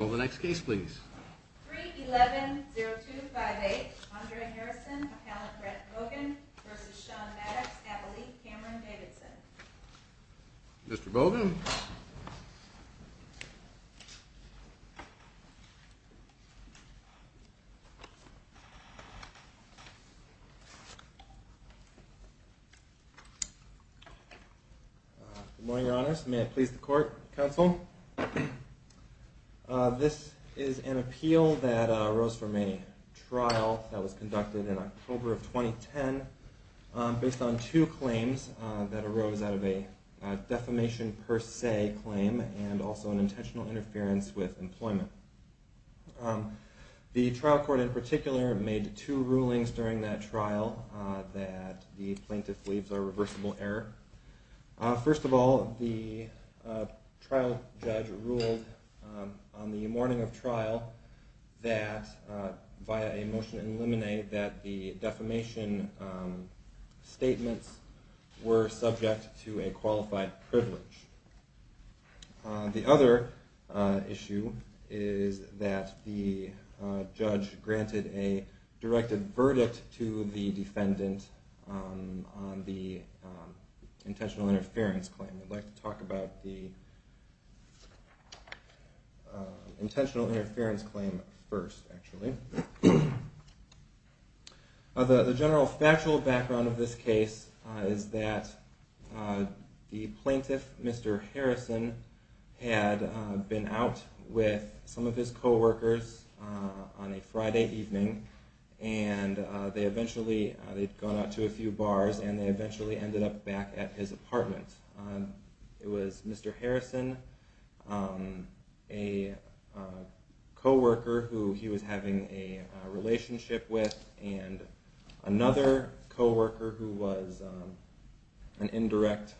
Well, the next case, please. 3 11 0 2 5 8. Andre Harrison, Caleb Brent Logan versus Sean Maddox, Abilene Cameron Davidson. Mr. Bogan. Good morning, your honors. May it please the court, counsel. This is an appeal that arose from a trial that was conducted in October of 2010 based on two claims that arose out of a defamation per se claim and also an intentional interference with employment. The trial court in particular made two rulings during that trial that the plaintiff believes are reversible error. First of all, the trial judge ruled on the morning of trial that via a motion in limine that the defamation statements were subject to a qualified privilege. The other issue is that the judge granted a directed verdict to the defendant on the intentional interference claim. I'd like to talk about the intentional interference claim first, actually. The general factual background of this case is that the plaintiff, Mr. Harrison, had been out with some of his co-workers on a Friday evening and they had gone out to a few bars and they eventually ended up back at his apartment. It was Mr. Harrison, a co-worker who he was having a relationship with, and another co-worker who was an indirect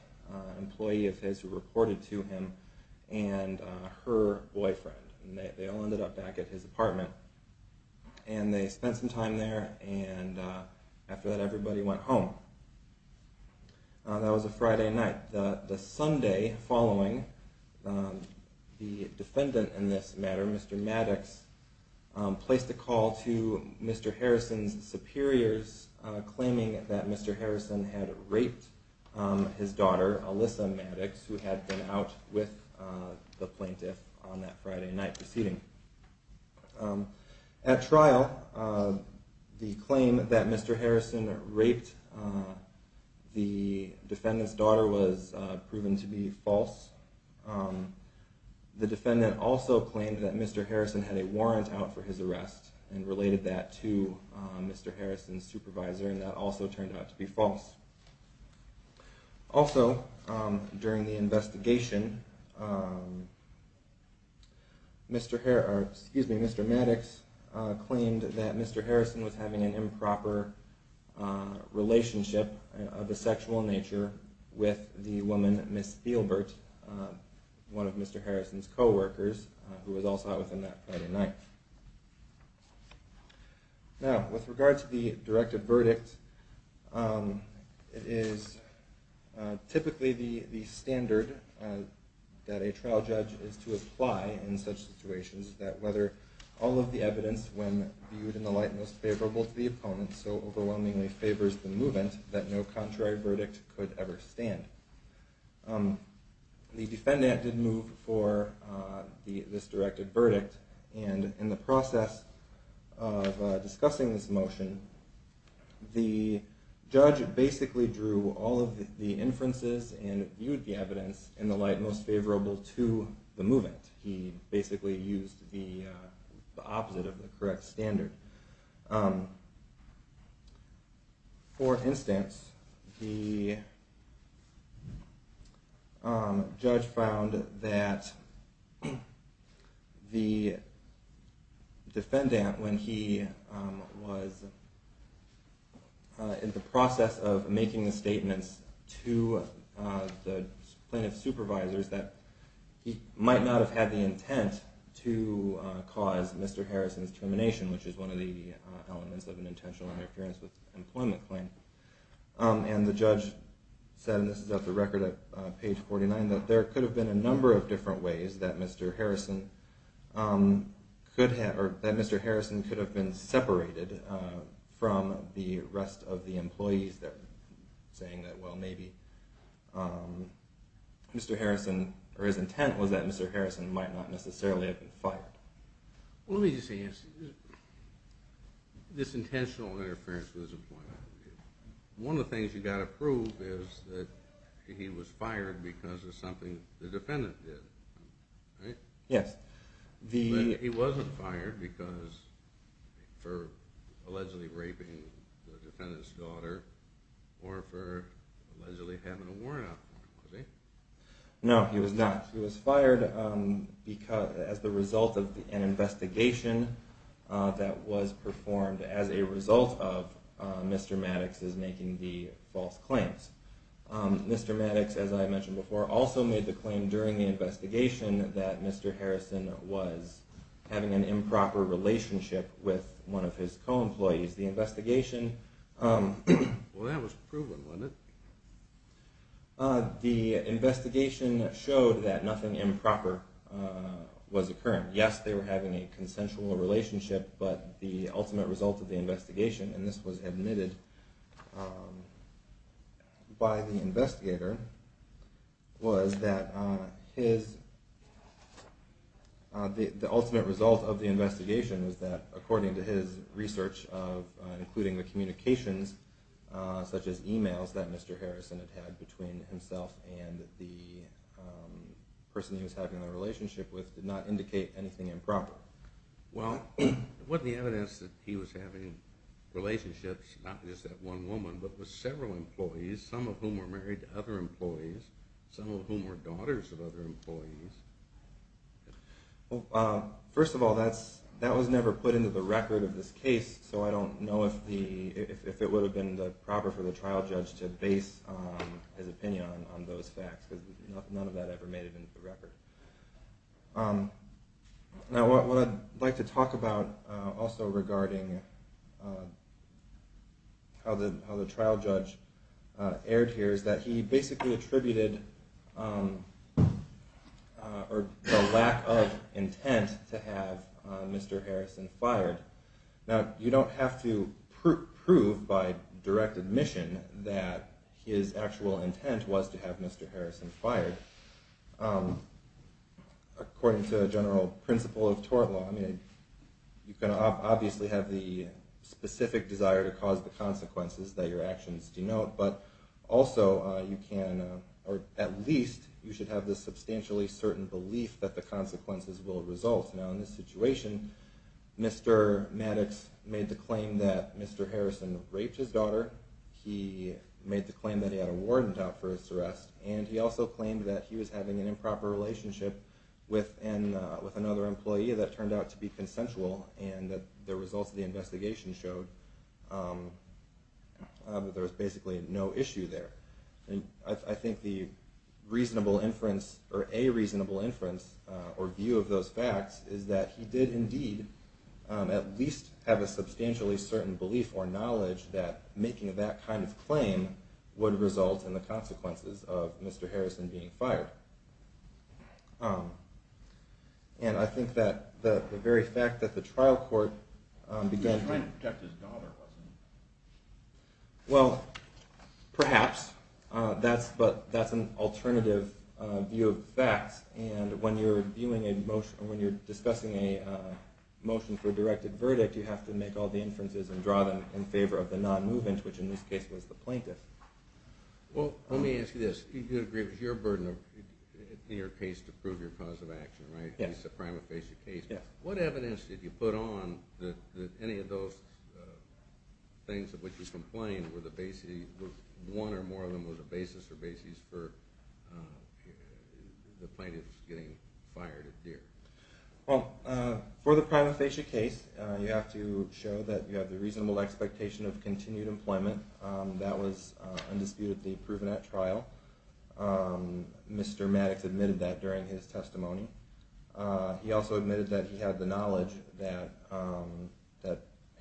employee of his who reported to him, and her boyfriend. They all ended up back at his apartment and they spent some time there and after that everybody went home. That was a Friday night. The Sunday following, the defendant in this matter, Mr. Maddox, placed a call to Mr. Harrison's superiors claiming that Mr. Harrison had raped his daughter, Alyssa Maddox, who had been out with the plaintiff on that Friday night proceeding. At trial, the claim that Mr. Harrison raped the defendant's daughter was proven to be false. The defendant also claimed that Mr. Harrison had a warrant out for his arrest and related that to Mr. Harrison's supervisor and that also turned out to be false. Also, during the investigation, Mr. Maddox claimed that Mr. Harrison was having an improper relationship of a sexual nature with the woman, Ms. Spielbert, one of Mr. Harrison's co-workers who was also out with him that Friday night. Now, with regard to the directed verdict, it is typically the standard that a trial judge is to apply in such situations that whether all of the evidence when viewed in the light most favorable to the opponent so overwhelmingly favors the movement that no contrary verdict could ever stand. The defendant did move for this directed verdict and in the process of discussing this motion, the judge basically drew all of the inferences and viewed the evidence in the light most favorable to the movement. He basically used the opposite of the correct standard. For instance, the judge found that the defendant, when he was in the process of making the statements to the plaintiff's supervisors, that he might not have had the intent to cause Mr. Harrison's termination, which is one of the elements of an intentional interference with an employment claim. And the judge said, and this is at the record at page 49, that there could have been a number of different ways that Mr. Harrison could have been separated from the rest of the employees there, saying that maybe his intent was that Mr. Harrison might not necessarily have been fired. Let me just ask you, this intentional interference with his employment, one of the things you've got to prove is that he was fired because of something the defendant did, right? Yes. He wasn't fired because, for allegedly raping the defendant's daughter or for allegedly having a warrant out for him, was he? No, he was not. He was fired as the result of an investigation that was performed as a result of Mr. Maddox's making the false claims. Mr. Maddox, as I mentioned before, also made the claim during the investigation that Mr. Harrison was having an improper relationship with one of his co-employees. Well, that was proven, wasn't it? The investigation showed that nothing improper was occurring. Yes, they were having a consensual relationship, but the ultimate result of the investigation, and this was admitted by the investigator, was that the ultimate result of the investigation was that, according to his research, including the communications, such as emails that Mr. Harrison had had between himself and the person he was having a relationship with, did not indicate anything improper. Well, wasn't the evidence that he was having relationships, not just with that one woman, but with several employees, some of whom were married to other employees, some of whom were daughters of other employees? Well, first of all, that was never put into the record of this case, so I don't know if it would have been proper for the trial judge to base his opinion on those facts, because none of that ever made it into the record. Now, what I'd like to talk about also regarding how the trial judge erred here is that he basically attributed a lack of intent to have Mr. Harrison fired. Now, you don't have to prove by direct admission that his actual intent was to have Mr. Harrison fired. According to general principle of tort law, you can obviously have the specific desire to cause the consequences that your actions denote, but also you can, or at least, you should have the substantially certain belief that the consequences will result. Now, in this situation, Mr. Maddox made the claim that Mr. Harrison raped his daughter, he made the claim that he had a warden out for his arrest, and he also claimed that he was having an improper relationship with another employee that turned out to be consensual, and the results of the investigation showed that there was basically no issue there. I think the reasonable inference, or a reasonable inference, or view of those facts is that he did indeed at least have a substantially certain belief or knowledge that making that kind of claim would result in the consequences of Mr. Harrison being fired. And I think that the very fact that the trial court began to... Well, perhaps, but that's an alternative view of facts, and when you're discussing a motion for a directed verdict, you have to make all the inferences and draw them in favor of the non-movement, which in this case was the plaintiff. Well, let me ask you this. You do agree it was your burden in your case to prove your cause of action, right? It's a prima facie case. What evidence did you put on that any of those things of which you complained, one or more of them, were the basis or bases for the plaintiff getting fired? Well, for the prima facie case, you have to show that you have the reasonable expectation of continued employment. That was undisputedly proven at trial. Mr. Maddox admitted that during his testimony. He also admitted that he had the knowledge that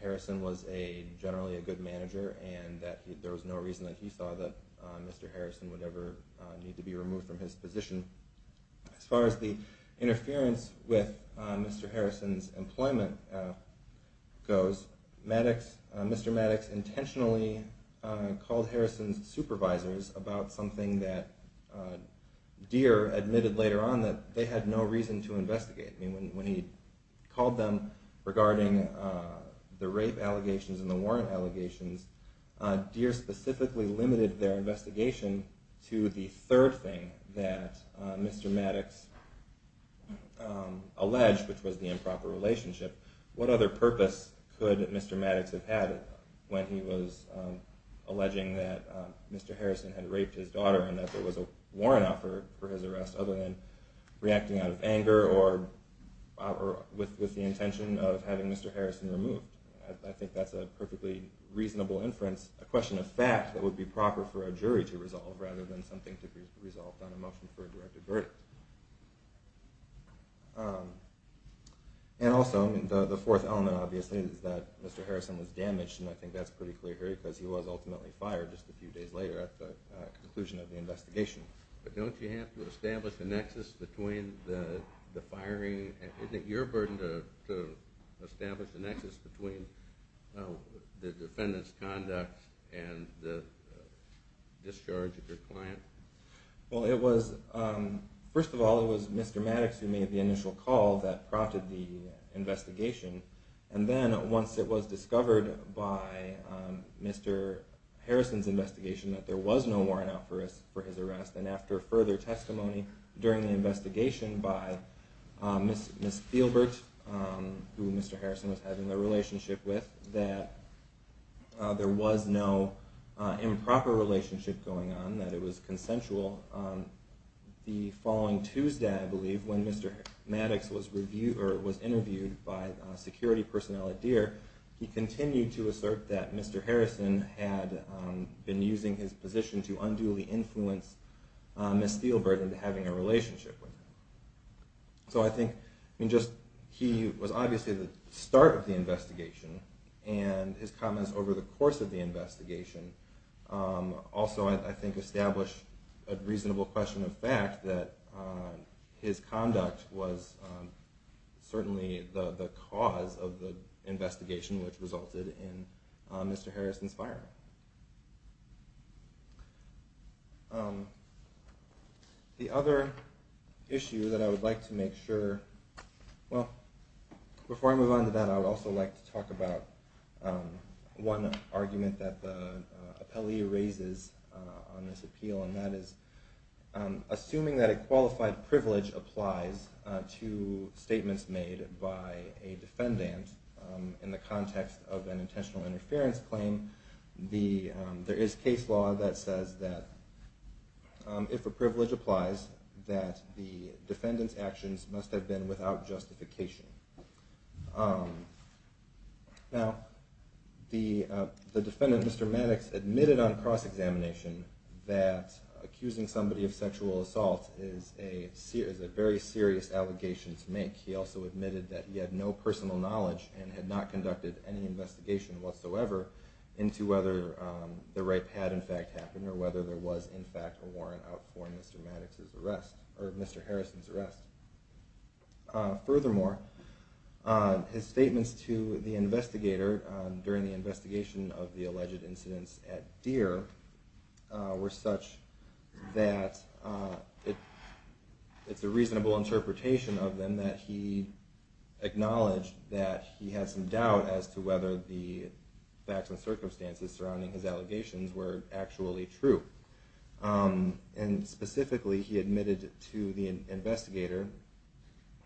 Harrison was generally a good manager and that there was no reason that he thought that Mr. Harrison would ever need to be removed from his position. As far as the interference with Mr. Harrison's employment goes, Mr. Maddox intentionally called Harrison's supervisors about something that Deere admitted later on that they had no reason to investigate. When he called them regarding the rape allegations and the warrant allegations, Deere specifically limited their investigation to the third thing that Mr. Maddox alleged, which was the improper relationship. What other purpose could Mr. Maddox have had when he was alleging that Mr. Harrison had raped his daughter and that there was a warrant out for his arrest other than reacting out of anger or with the intention of having Mr. Harrison removed? I think that's a perfectly reasonable inference, a question of fact that would be proper for a jury to resolve rather than something to be resolved on a motion for a direct verdict. And also, the fourth element obviously is that Mr. Harrison was damaged and I think that's pretty clear here because he was ultimately fired just a few days later at the conclusion of the investigation. But don't you have to establish a nexus between the firing? Isn't it your burden to establish a nexus between the defendant's conduct and the discharge of your client? Well it was, first of all it was Mr. Maddox who made the initial call that prompted the investigation and then once it was discovered by Mr. Harrison's investigation that there was no warrant out for his arrest, and after further testimony during the investigation by Ms. Spielbert, who Mr. Harrison was having a relationship with, that there was no improper relationship going on, that it was consensual. The following Tuesday, I believe, when Mr. Maddox was interviewed by security personnel at Deere, he continued to assert that Mr. Harrison had been using his position to unduly influence Ms. Spielbert into having a relationship with him. So I think he was obviously the start of the investigation and his comments over the course of the investigation also I think establish a reasonable question of fact that his conduct was certainly the cause of the investigation which resulted in Mr. Harrison's firing. The other issue that I would like to make sure, well before I move on to that I would also like to talk about one argument that the appellee raises on this appeal and that is assuming that a qualified privilege applies to statements made by a defendant in the context of an intentional interference claim, there is case law that says that if a privilege applies that the defendant's actions must have been without justification. Now the defendant, Mr. Maddox, admitted on cross-examination that accusing somebody of sexual assault is a very serious allegation to make. He also admitted that he had no personal knowledge and had not conducted any investigation whatsoever into whether the rape had in fact happened or whether there was in fact a warrant out for Mr. Harrison's arrest. Furthermore, his statements to the investigator during the investigation of the alleged incidents at Deere were such that it's a reasonable interpretation of them that he acknowledged that he had some doubt as to whether the facts and circumstances surrounding his allegations were actually true. And specifically he admitted to the investigator,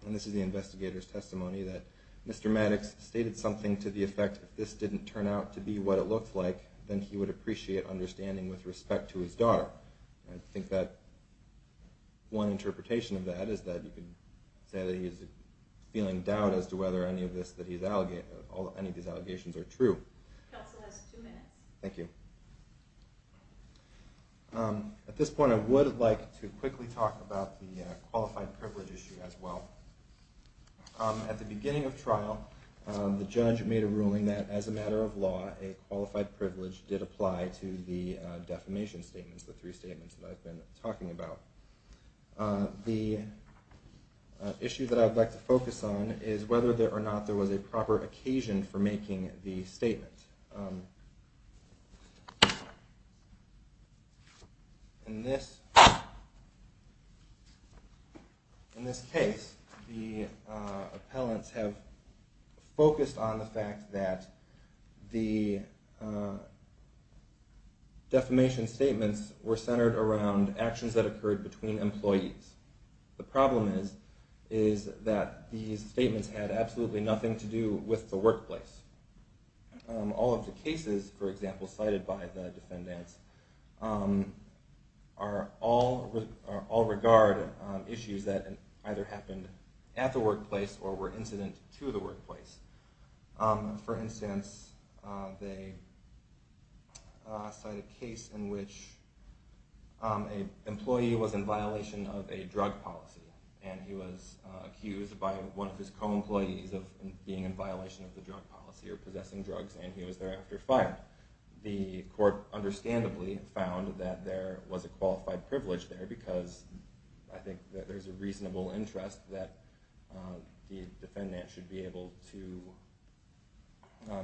and this is the investigator's testimony, that Mr. Maddox stated something to the effect that if this didn't turn out to be what it looked like then he would appreciate understanding with respect to his daughter. I think that one interpretation of that is that you could say that he's feeling doubt as to whether any of these allegations are true. At this point I would like to quickly talk about the qualified privilege issue as well. At the beginning of trial the judge made a ruling that as a matter of law a qualified privilege did apply to the defamation statements, the three statements that I've been talking about. The issue that I would like to focus on is whether or not there was a proper occasion for making the statement. In this case the appellants have focused on the fact that the defamation statements were centered around actions that occurred between employees. The problem is that these statements had absolutely nothing to do with the workplace. All of the cases, for example, cited by the defendants all regard issues that either happened at the workplace or were incident to the workplace. For instance, they cited a case in which an employee was in violation of a drug policy and he was accused by one of his co-employees of being in violation of the drug policy or possessing drugs and he was thereafter fired. The court understandably found that there was a qualified privilege there because I think there is a reasonable interest that the defendant should be able to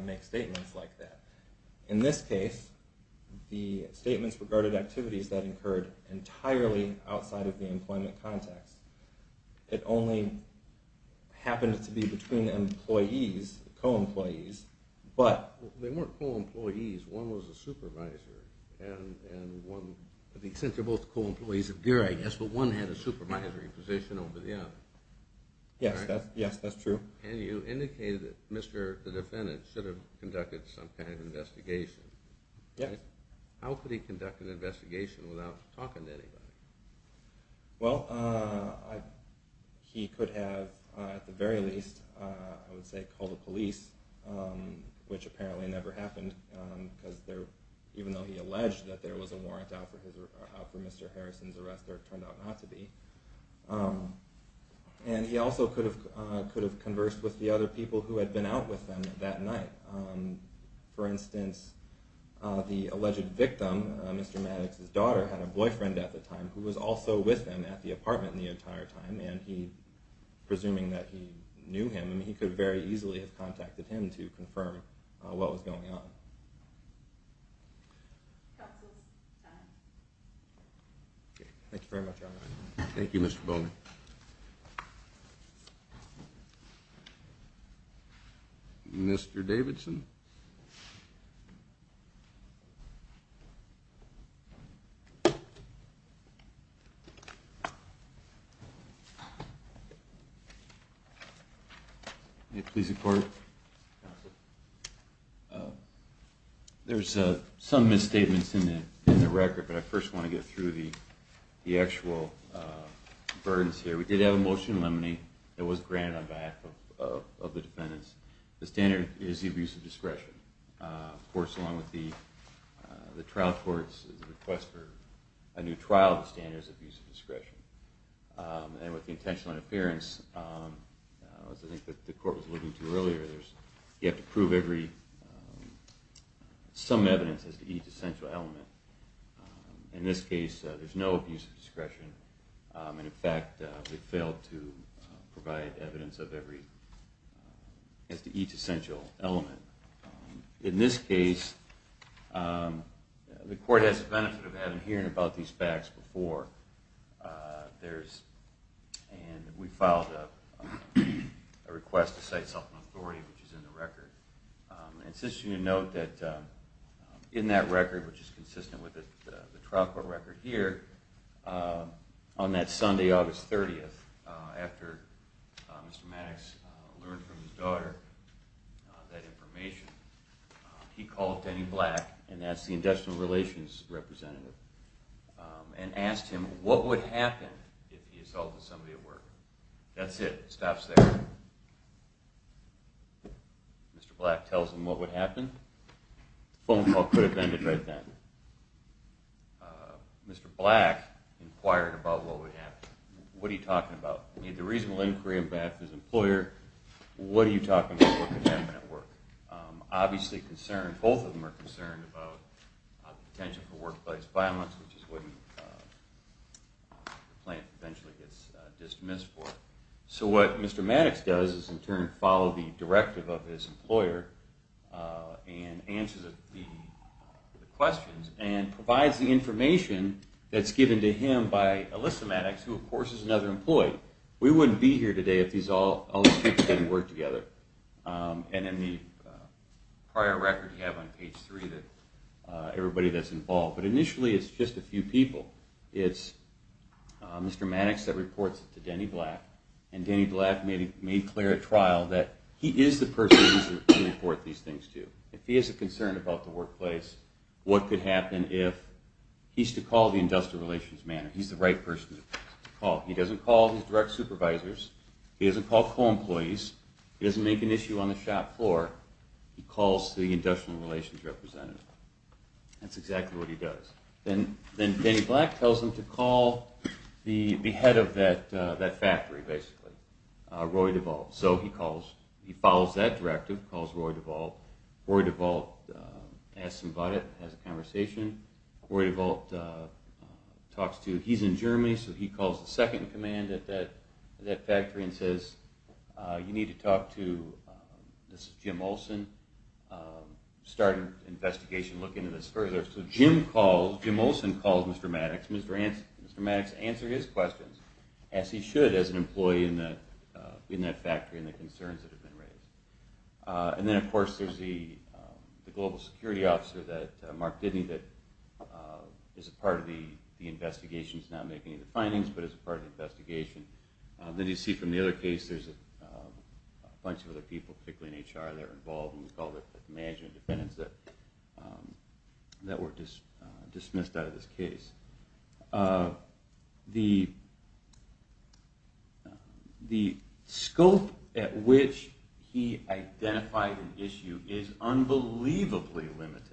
make statements like that. In this case the statements regarded activities that occurred entirely outside of the employment context. It only happened to be between employees, co-employees. They weren't co-employees, one was a supervisor. Since they're both co-employees of GEER I guess, but one had a supervisory position over the other. Yes, that's true. And you indicated that the defendant should have conducted some kind of investigation. Yes. How could he conduct an investigation without talking to anybody? Well, he could have at the very least I would say called the police, which apparently never happened because even though he alleged that there was a warrant out for Mr. Harrison's arrest there turned out not to be. And he also could have conversed with the other people who had been out with him that night. For instance, the alleged victim, Mr. Maddox's daughter, had a boyfriend at the time who was also with him at the apartment the entire time. And he, presuming that he knew him, he could very easily have contacted him to confirm what was going on. Thank you very much. Thank you, Mr. Bowman. Thank you. Mr. Davidson? There's some misstatements in the record, but I first want to get through the actual burdens here. We did have a motion in limine that was granted on behalf of the defendants. The standard is the abuse of discretion. Of course, along with the trial court's request for a new trial, the standard is abuse of discretion. And with the intentional interference, as I think the court was looking to earlier, you have to prove some evidence as to each essential element. In this case, there's no abuse of discretion. In fact, we failed to provide evidence as to each essential element. In this case, the court has the benefit of having heard about these facts before. And we filed a request to cite self-authority, which is in the record. I insist you note that in that record, which is consistent with the trial court record here, on that Sunday, August 30th, after Mr. Maddox learned from his daughter that information, he called Denny Black, and that's the industrial relations representative, and asked him what would happen if he assaulted somebody at work. That's it. It stops there. Mr. Black tells him what would happen. The phone call could have ended right then. Mr. Black inquired about what would happen. What are you talking about? I mean, the reasonable inquiry on behalf of his employer, what are you talking about would happen at work? Obviously concerned, both of them are concerned about the potential for workplace violence, which is what the plaintiff eventually gets dismissed for. So what Mr. Maddox does is, in turn, follow the directive of his employer and answers the questions and provides the information that's given to him by Alyssa Maddox, who, of course, is another employee. We wouldn't be here today if all these people didn't work together. And in the prior record you have on page 3, everybody that's involved. But initially it's just a few people. It's Mr. Maddox that reports it to Denny Black, and Denny Black made clear at trial that he is the person he should report these things to. If he is concerned about the workplace, what could happen if he's to call the industrial relations manager? He's the right person to call. He doesn't call his direct supervisors. He doesn't call co-employees. He doesn't make an issue on the shop floor. He calls the industrial relations representative. That's exactly what he does. Then Denny Black tells him to call the head of that factory, basically, Roy DeVault. So he follows that directive, calls Roy DeVault. Roy DeVault asks him about it, has a conversation. Roy DeVault talks to him. He's in Germany, so he calls the second command at that factory and says, you need to talk to Jim Olsen, start an investigation, look into this further. So Jim Olsen calls Mr. Maddox, and Mr. Maddox answers his questions, as he should as an employee in that factory and the concerns that have been raised. And then, of course, there's the global security officer, Mark Didney, that is a part of the investigation. He's not making any of the findings, but is a part of the investigation. Then you see from the other case, there's a bunch of other people, particularly in HR, that are involved in management dependents that were dismissed out of this case. The scope at which he identified an issue is unbelievably limited.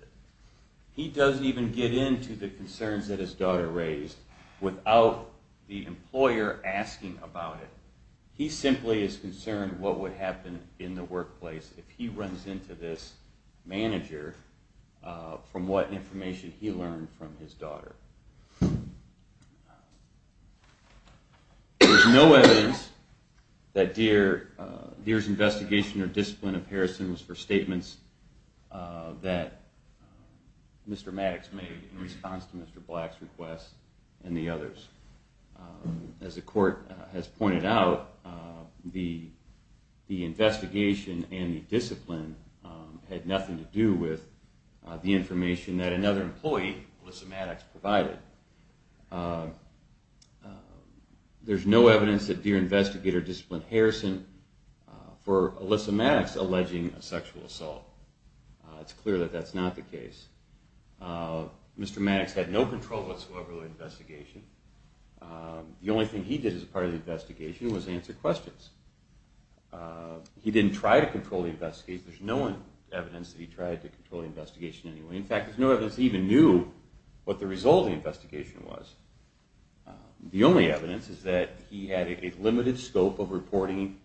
He doesn't even get into the concerns that his daughter raised without the employer asking about it. He simply is concerned what would happen in the workplace if he runs into this manager from what information he learned from his daughter. There's no evidence that Deere's investigation or discipline of Harrison was for statements that Mr. Maddox made in response to Mr. Black's request and the others. As the court has pointed out, the investigation and the discipline had nothing to do with the information that another employee, Alyssa Maddox, provided. There's no evidence that Deere investigator disciplined Harrison for Alyssa Maddox alleging a sexual assault. It's clear that that's not the case. Mr. Maddox had no control whatsoever of the investigation. The only thing he did as part of the investigation was answer questions. He didn't try to control the investigation. There's no evidence that he tried to control the investigation anyway. In fact, there's no evidence he even knew what the result of the investigation was. The only evidence is that he had a limited scope of reporting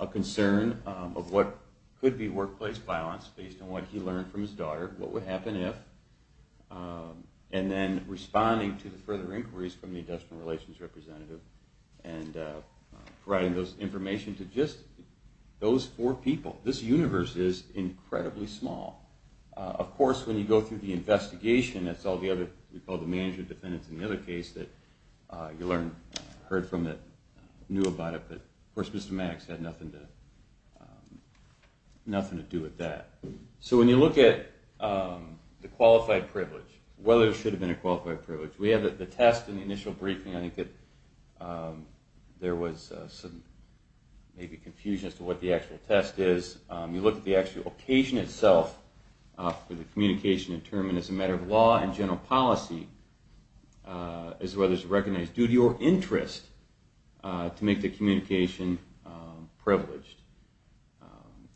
a concern of what could be workplace violence based on what he learned from his daughter, what would happen if, and then responding to the further inquiries from the industrial relations representative and providing those information to just those four people. This universe is incredibly small. Of course, when you go through the investigation, that's all the other, we call the management defendants in the other case that you heard from that knew about it. Of course, Mr. Maddox had nothing to do with that. So when you look at the qualified privilege, whether it should have been a qualified privilege, we have the test in the initial briefing. I think that there was some confusion as to what the actual test is. You look at the actual occasion itself for the communication determined as a matter of law and general policy as whether it's a recognized duty or interest to make the communication privileged.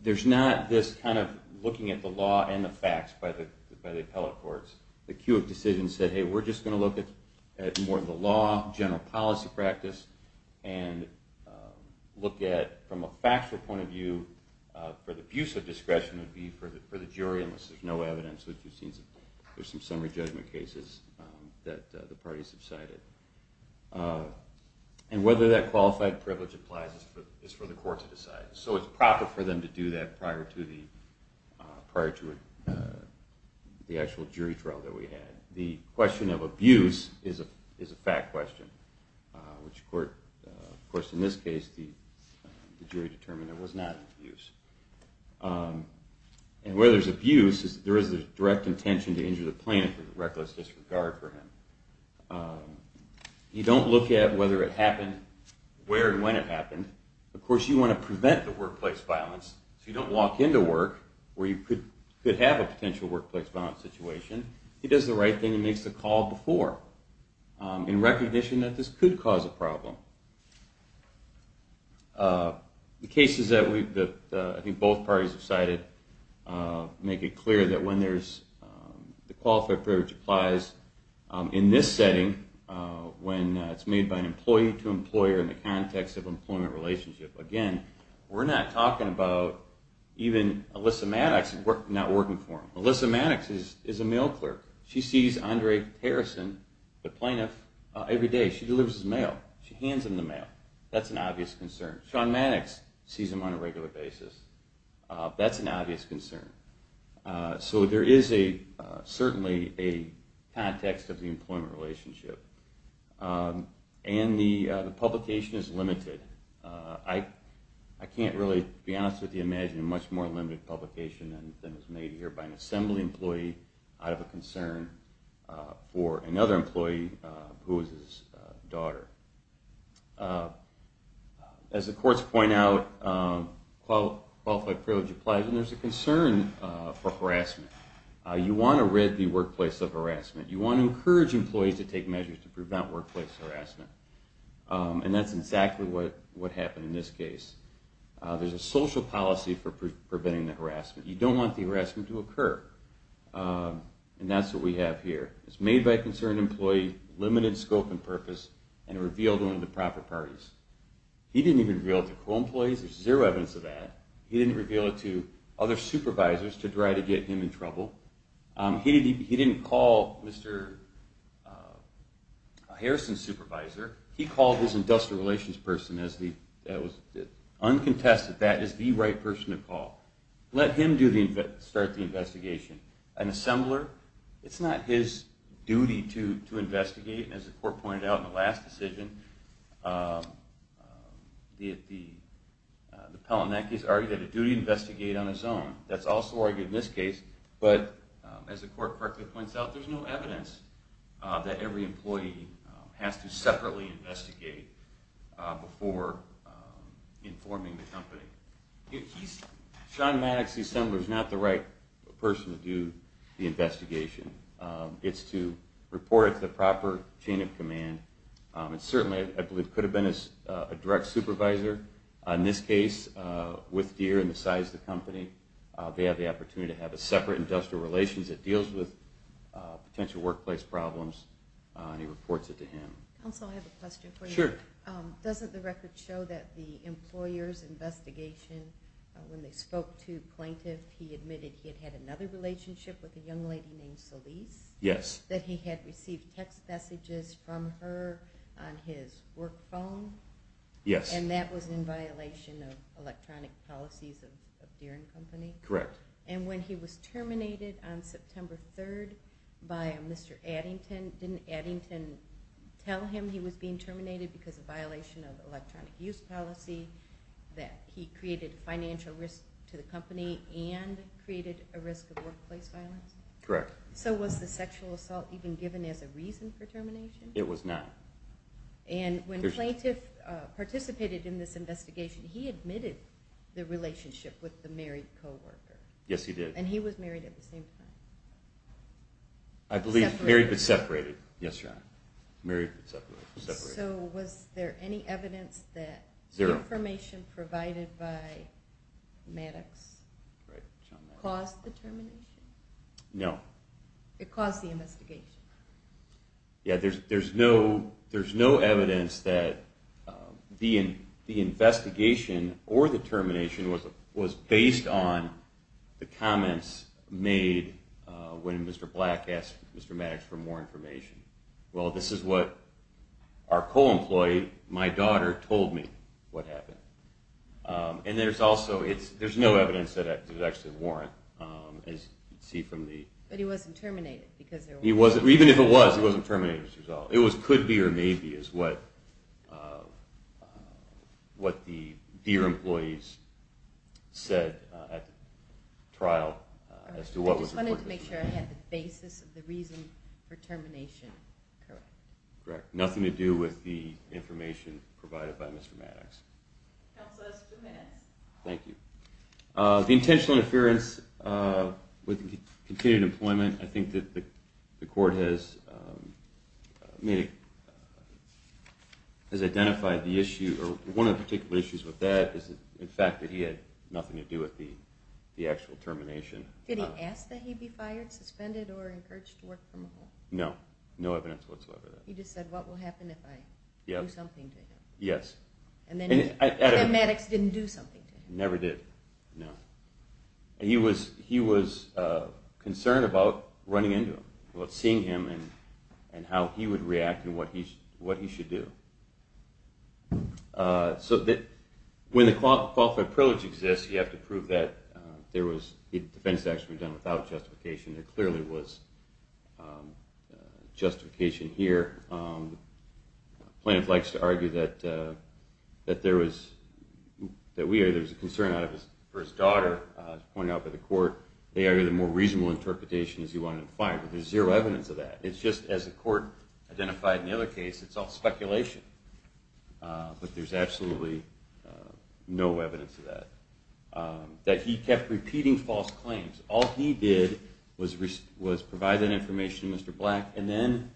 There's not this kind of looking at the law and the facts by the appellate courts. The Kewitt decision said, hey, we're just going to look at more of the law, general policy practice, and look at from a factual point of view for the abuse of discretion would be for the jury, unless there's no evidence. There's some summary judgment cases that the parties have cited. And whether that qualified privilege applies is for the court to decide. So it's proper for them to do that prior to the actual jury trial that we had. The question of abuse is a fact question, which of course in this case the jury determined it was not abuse. And where there's abuse, there is a direct intention to injure the plaintiff with reckless disregard for him. You don't look at whether it happened, where and when it happened. Of course you want to prevent the workplace violence, so you don't walk into work where you could have a potential workplace violence situation. He does the right thing and makes the call before, in recognition that this could cause a problem. The cases that I think both parties have cited make it clear that when the qualified privilege applies in this setting, when it's made by an employee to employer in the context of employment relationship, again, we're not talking about even Alyssa Maddox not working for him. Alyssa Maddox is a mail clerk. She sees Andre Harrison, the plaintiff, every day. She delivers his mail. She hands him the mail. That's an obvious concern. Sean Maddox sees him on a regular basis. That's an obvious concern. So there is certainly a context of the employment relationship. And the publication is limited. I can't really be honest with you and imagine a much more limited publication than is made here by an assembly employee out of a concern for another employee who is his daughter. As the courts point out, qualified privilege applies and there's a concern for harassment. You want to rid the workplace of harassment. You want to encourage employees to take measures to prevent workplace harassment. And that's exactly what happened in this case. There's a social policy for preventing the harassment. You don't want the harassment to occur. And that's what we have here. It's made by a concerned employee, limited scope and purpose, and revealed to one of the proper parties. He didn't even reveal it to co-employees. There's zero evidence of that. He didn't reveal it to other supervisors to try to get him in trouble. He didn't call Mr. Harrison's supervisor. He called his industrial relations person as the uncontested, that is the right person to call. Let him start the investigation. An assembler, it's not his duty to investigate. As the court pointed out in the last decision, the Pellinack case argued that a duty to investigate on his own. That's also argued in this case, but as the court correctly points out, there's no evidence that every employee has to separately investigate before informing the company. Sean Maddox, the assembler, is not the right person to do the investigation. It's to report it to the proper chain of command. It certainly, I believe, could have been a direct supervisor. In this case, with Deere and the size of the company, they have the opportunity to have a separate industrial relations that deals with potential workplace problems, and he reports it to him. Counsel, I have a question for you. Sure. Doesn't the record show that the employer's investigation, when they spoke to plaintiff, he admitted he had had another relationship with a young lady named Solis? Yes. That he had received text messages from her on his work phone? Yes. And that was in violation of electronic policies of Deere and Company? Correct. And when he was terminated on September 3rd by Mr. Addington, didn't Addington tell him he was being terminated because of violation of electronic use policy, that he created financial risk to the company and created a risk of workplace violence? Correct. So was the sexual assault even given as a reason for termination? It was not. And when plaintiff participated in this investigation, he admitted the relationship with the married co-worker? Yes, he did. And he was married at the same time? I believe married but separated. Yes, Your Honor. Married but separated. So was there any evidence that information provided by Maddox caused the termination? No. It caused the investigation? Yes, there's no evidence that the investigation or the termination was based on the comments made when Mr. Black asked Mr. Maddox for more information. Well, this is what our co-employee, my daughter, told me what happened. And there's no evidence that it actually warranted, as you can see from the… But he wasn't terminated because there was… Even if it was, he wasn't terminated as a result. It was could be or may be is what the Deere employees said at the trial as to what was… I just wanted to make sure I had the basis of the reason for termination correct. Correct. Nothing to do with the information provided by Mr. Maddox. Counsel, that's two minutes. Thank you. The intentional interference with continued employment, I think that the court has identified the issue or one of the particular issues with that is the fact that he had nothing to do with the actual termination. Did he ask that he be fired, suspended, or encouraged to work from home? No. No evidence whatsoever of that. He just said, what will happen if I do something to him? And then Maddox didn't do something to him? Never did. No. He was concerned about running into him, about seeing him and how he would react and what he should do. So when the qualified privilege exists, you have to prove that there was… The defense was actually done without justification. There clearly was justification here. Plaintiff likes to argue that there was a concern for his daughter, pointed out by the court. They argued a more reasonable interpretation is he wanted him fired. But there's zero evidence of that. It's just as the court identified in the other case, it's all speculation. But there's absolutely no evidence of that. That he kept repeating false claims. All he did was provide that information to Mr. Black and then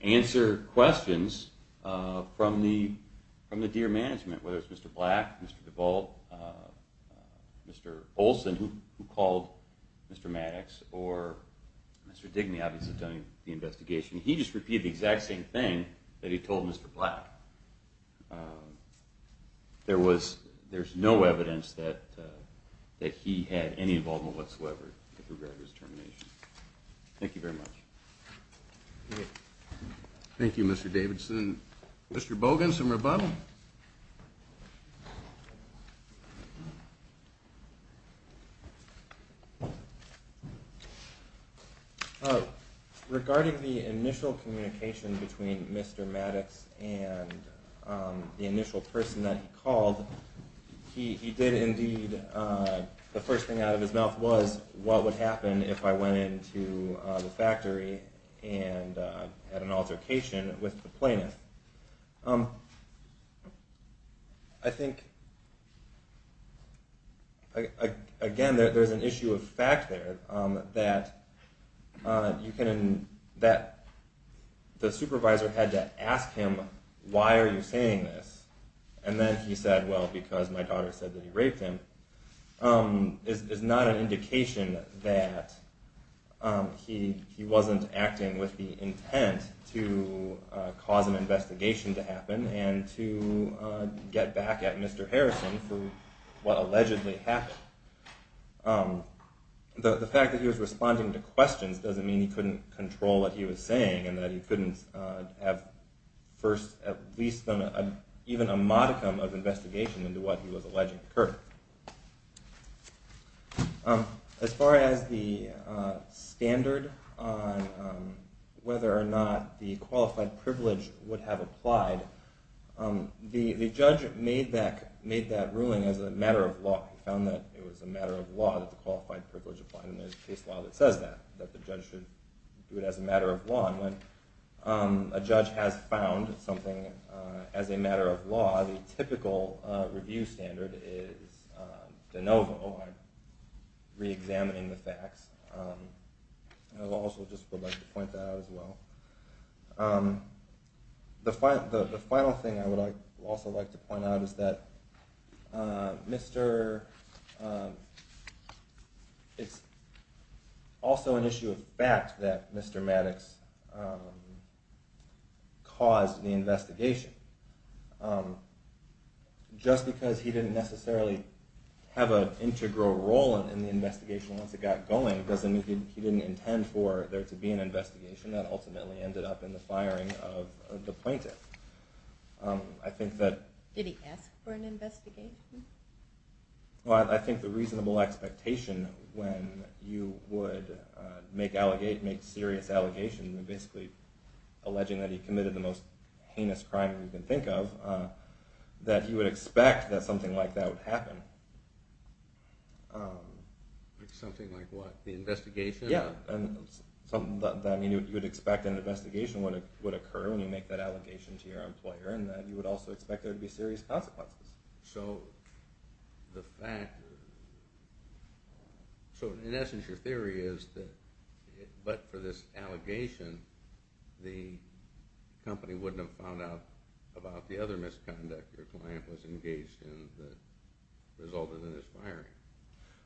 answer questions from the Deere management. Whether it was Mr. Black, Mr. DeVault, Mr. Olson, who called Mr. Maddox, or Mr. Digny obviously doing the investigation. He just repeated the exact same thing that he told Mr. Black. There's no evidence that he had any involvement whatsoever with regard to his termination. Thank you very much. Thank you, Mr. Davidson. Mr. Bogan, some rebuttal? Regarding the initial communication between Mr. Maddox and the initial person that he called, he did indeed, the first thing out of his mouth was, what would happen if I went into the factory and had an altercation with the plaintiff? I think, again, there's an issue of fact there. That the supervisor had to ask him, why are you saying this? And then he said, well, because my daughter said that he raped him. It's not an indication that he wasn't acting with the intent to cause an investigation to happen and to get back at Mr. Harrison for what allegedly happened. The fact that he was responding to questions doesn't mean he couldn't control what he was saying and that he couldn't have first at least done even a modicum of investigation into what he was alleging occurred. As far as the standard on whether or not the qualified privilege would have applied, the judge made that ruling as a matter of law. He found that it was a matter of law that the qualified privilege applied, and there's a case law that says that, that the judge should do it as a matter of law. And when a judge has found something as a matter of law, the typical review standard is de novo, reexamining the facts. I also just would like to point that out as well. The final thing I would also like to point out is that it's also an issue of fact that Mr. Maddox caused the investigation. Just because he didn't necessarily have an integral role in the investigation once it got going doesn't mean he didn't intend for there to be an investigation that ultimately ended up in the firing of the plaintiff. Did he ask for an investigation? I think the reasonable expectation when you would make serious allegations, basically alleging that he committed the most heinous crime you can think of, that you would expect that something like that would happen. Like something like what? The investigation? Yeah, you would expect an investigation would occur when you make that allegation to your employer, and you would also expect there to be serious consequences. So in essence your theory is that, but for this allegation, the company wouldn't have found out about the other misconduct your client was engaged in that resulted in his firing.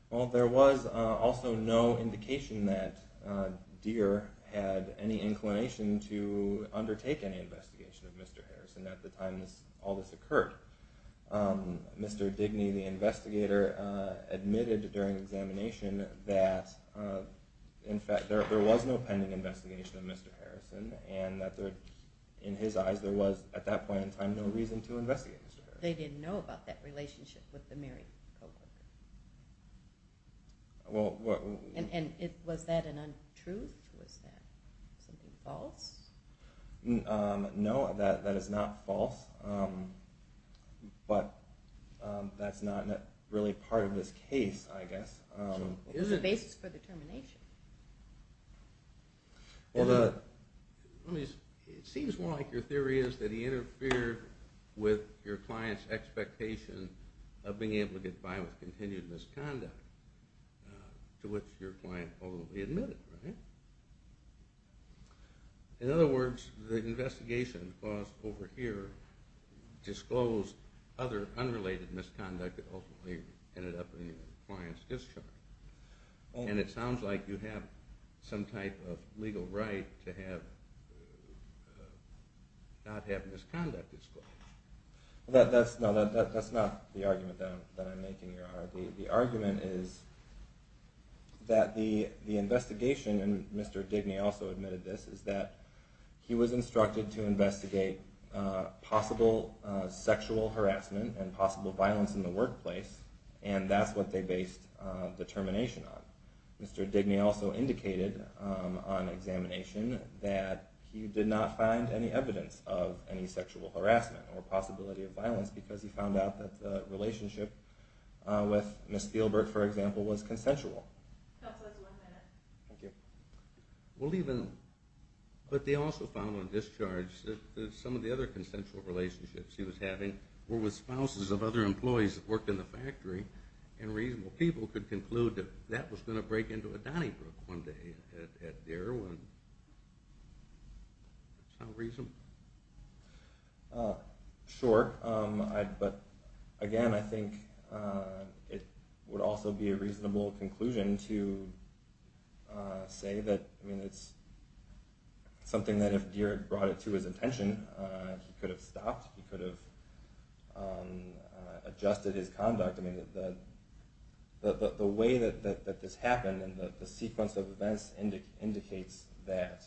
Well there was also no indication that Deere had any inclination to undertake any investigation of Mr. Harrison at the time all this occurred. Mr. Digny, the investigator, admitted during examination that in fact there was no pending investigation of Mr. Harrison, and that in his eyes there was at that point in time no reason to investigate Mr. Harrison. They didn't know about that relationship with the Mary Kovler? And was that an untruth? Was that something false? No, that is not false, but that's not really part of this case I guess. It was a basis for determination. It seems more like your theory is that he interfered with your client's expectation of being able to get by with continued misconduct, to which your client ultimately admitted, right? In other words, the investigation over here disclosed other unrelated misconduct that ultimately ended up in your client's discharge. And it sounds like you have some type of legal right to not have misconduct disclosed. No, that's not the argument that I'm making here. The argument is that the investigation, and Mr. Digny also admitted this, is that he was instructed to investigate possible sexual harassment and possible violence in the workplace, and that's what they based determination on. Mr. Digny also indicated on examination that he did not find any evidence of any sexual harassment or possibility of violence because he found out that the relationship with Ms. Spielberg, for example, was consensual. We'll leave it at that. But they also found on discharge that some of the other consensual relationships he was having were with spouses of other employees that worked in the factory, and reasonable people could conclude that that was going to break into a Donnybrook one day at Darwin. Does that sound reasonable? Sure. But again, I think it would also be a reasonable conclusion to say that it's something that if Dierick brought it to his attention, he could have stopped, he could have adjusted his conduct. The way that this happened and the sequence of events indicates that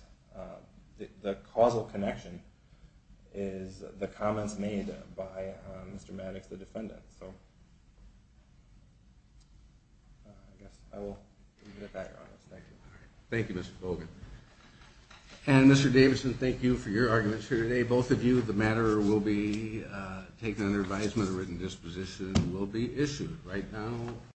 the causal connection is the comments made by Mr. Maddox, the defendant. So I guess I will leave it at that. Thank you, Mr. Fogan. And Mr. Davidson, thank you for your arguments here today. Both of you, the matter will be taken under advisement, a written disposition will be issued right now.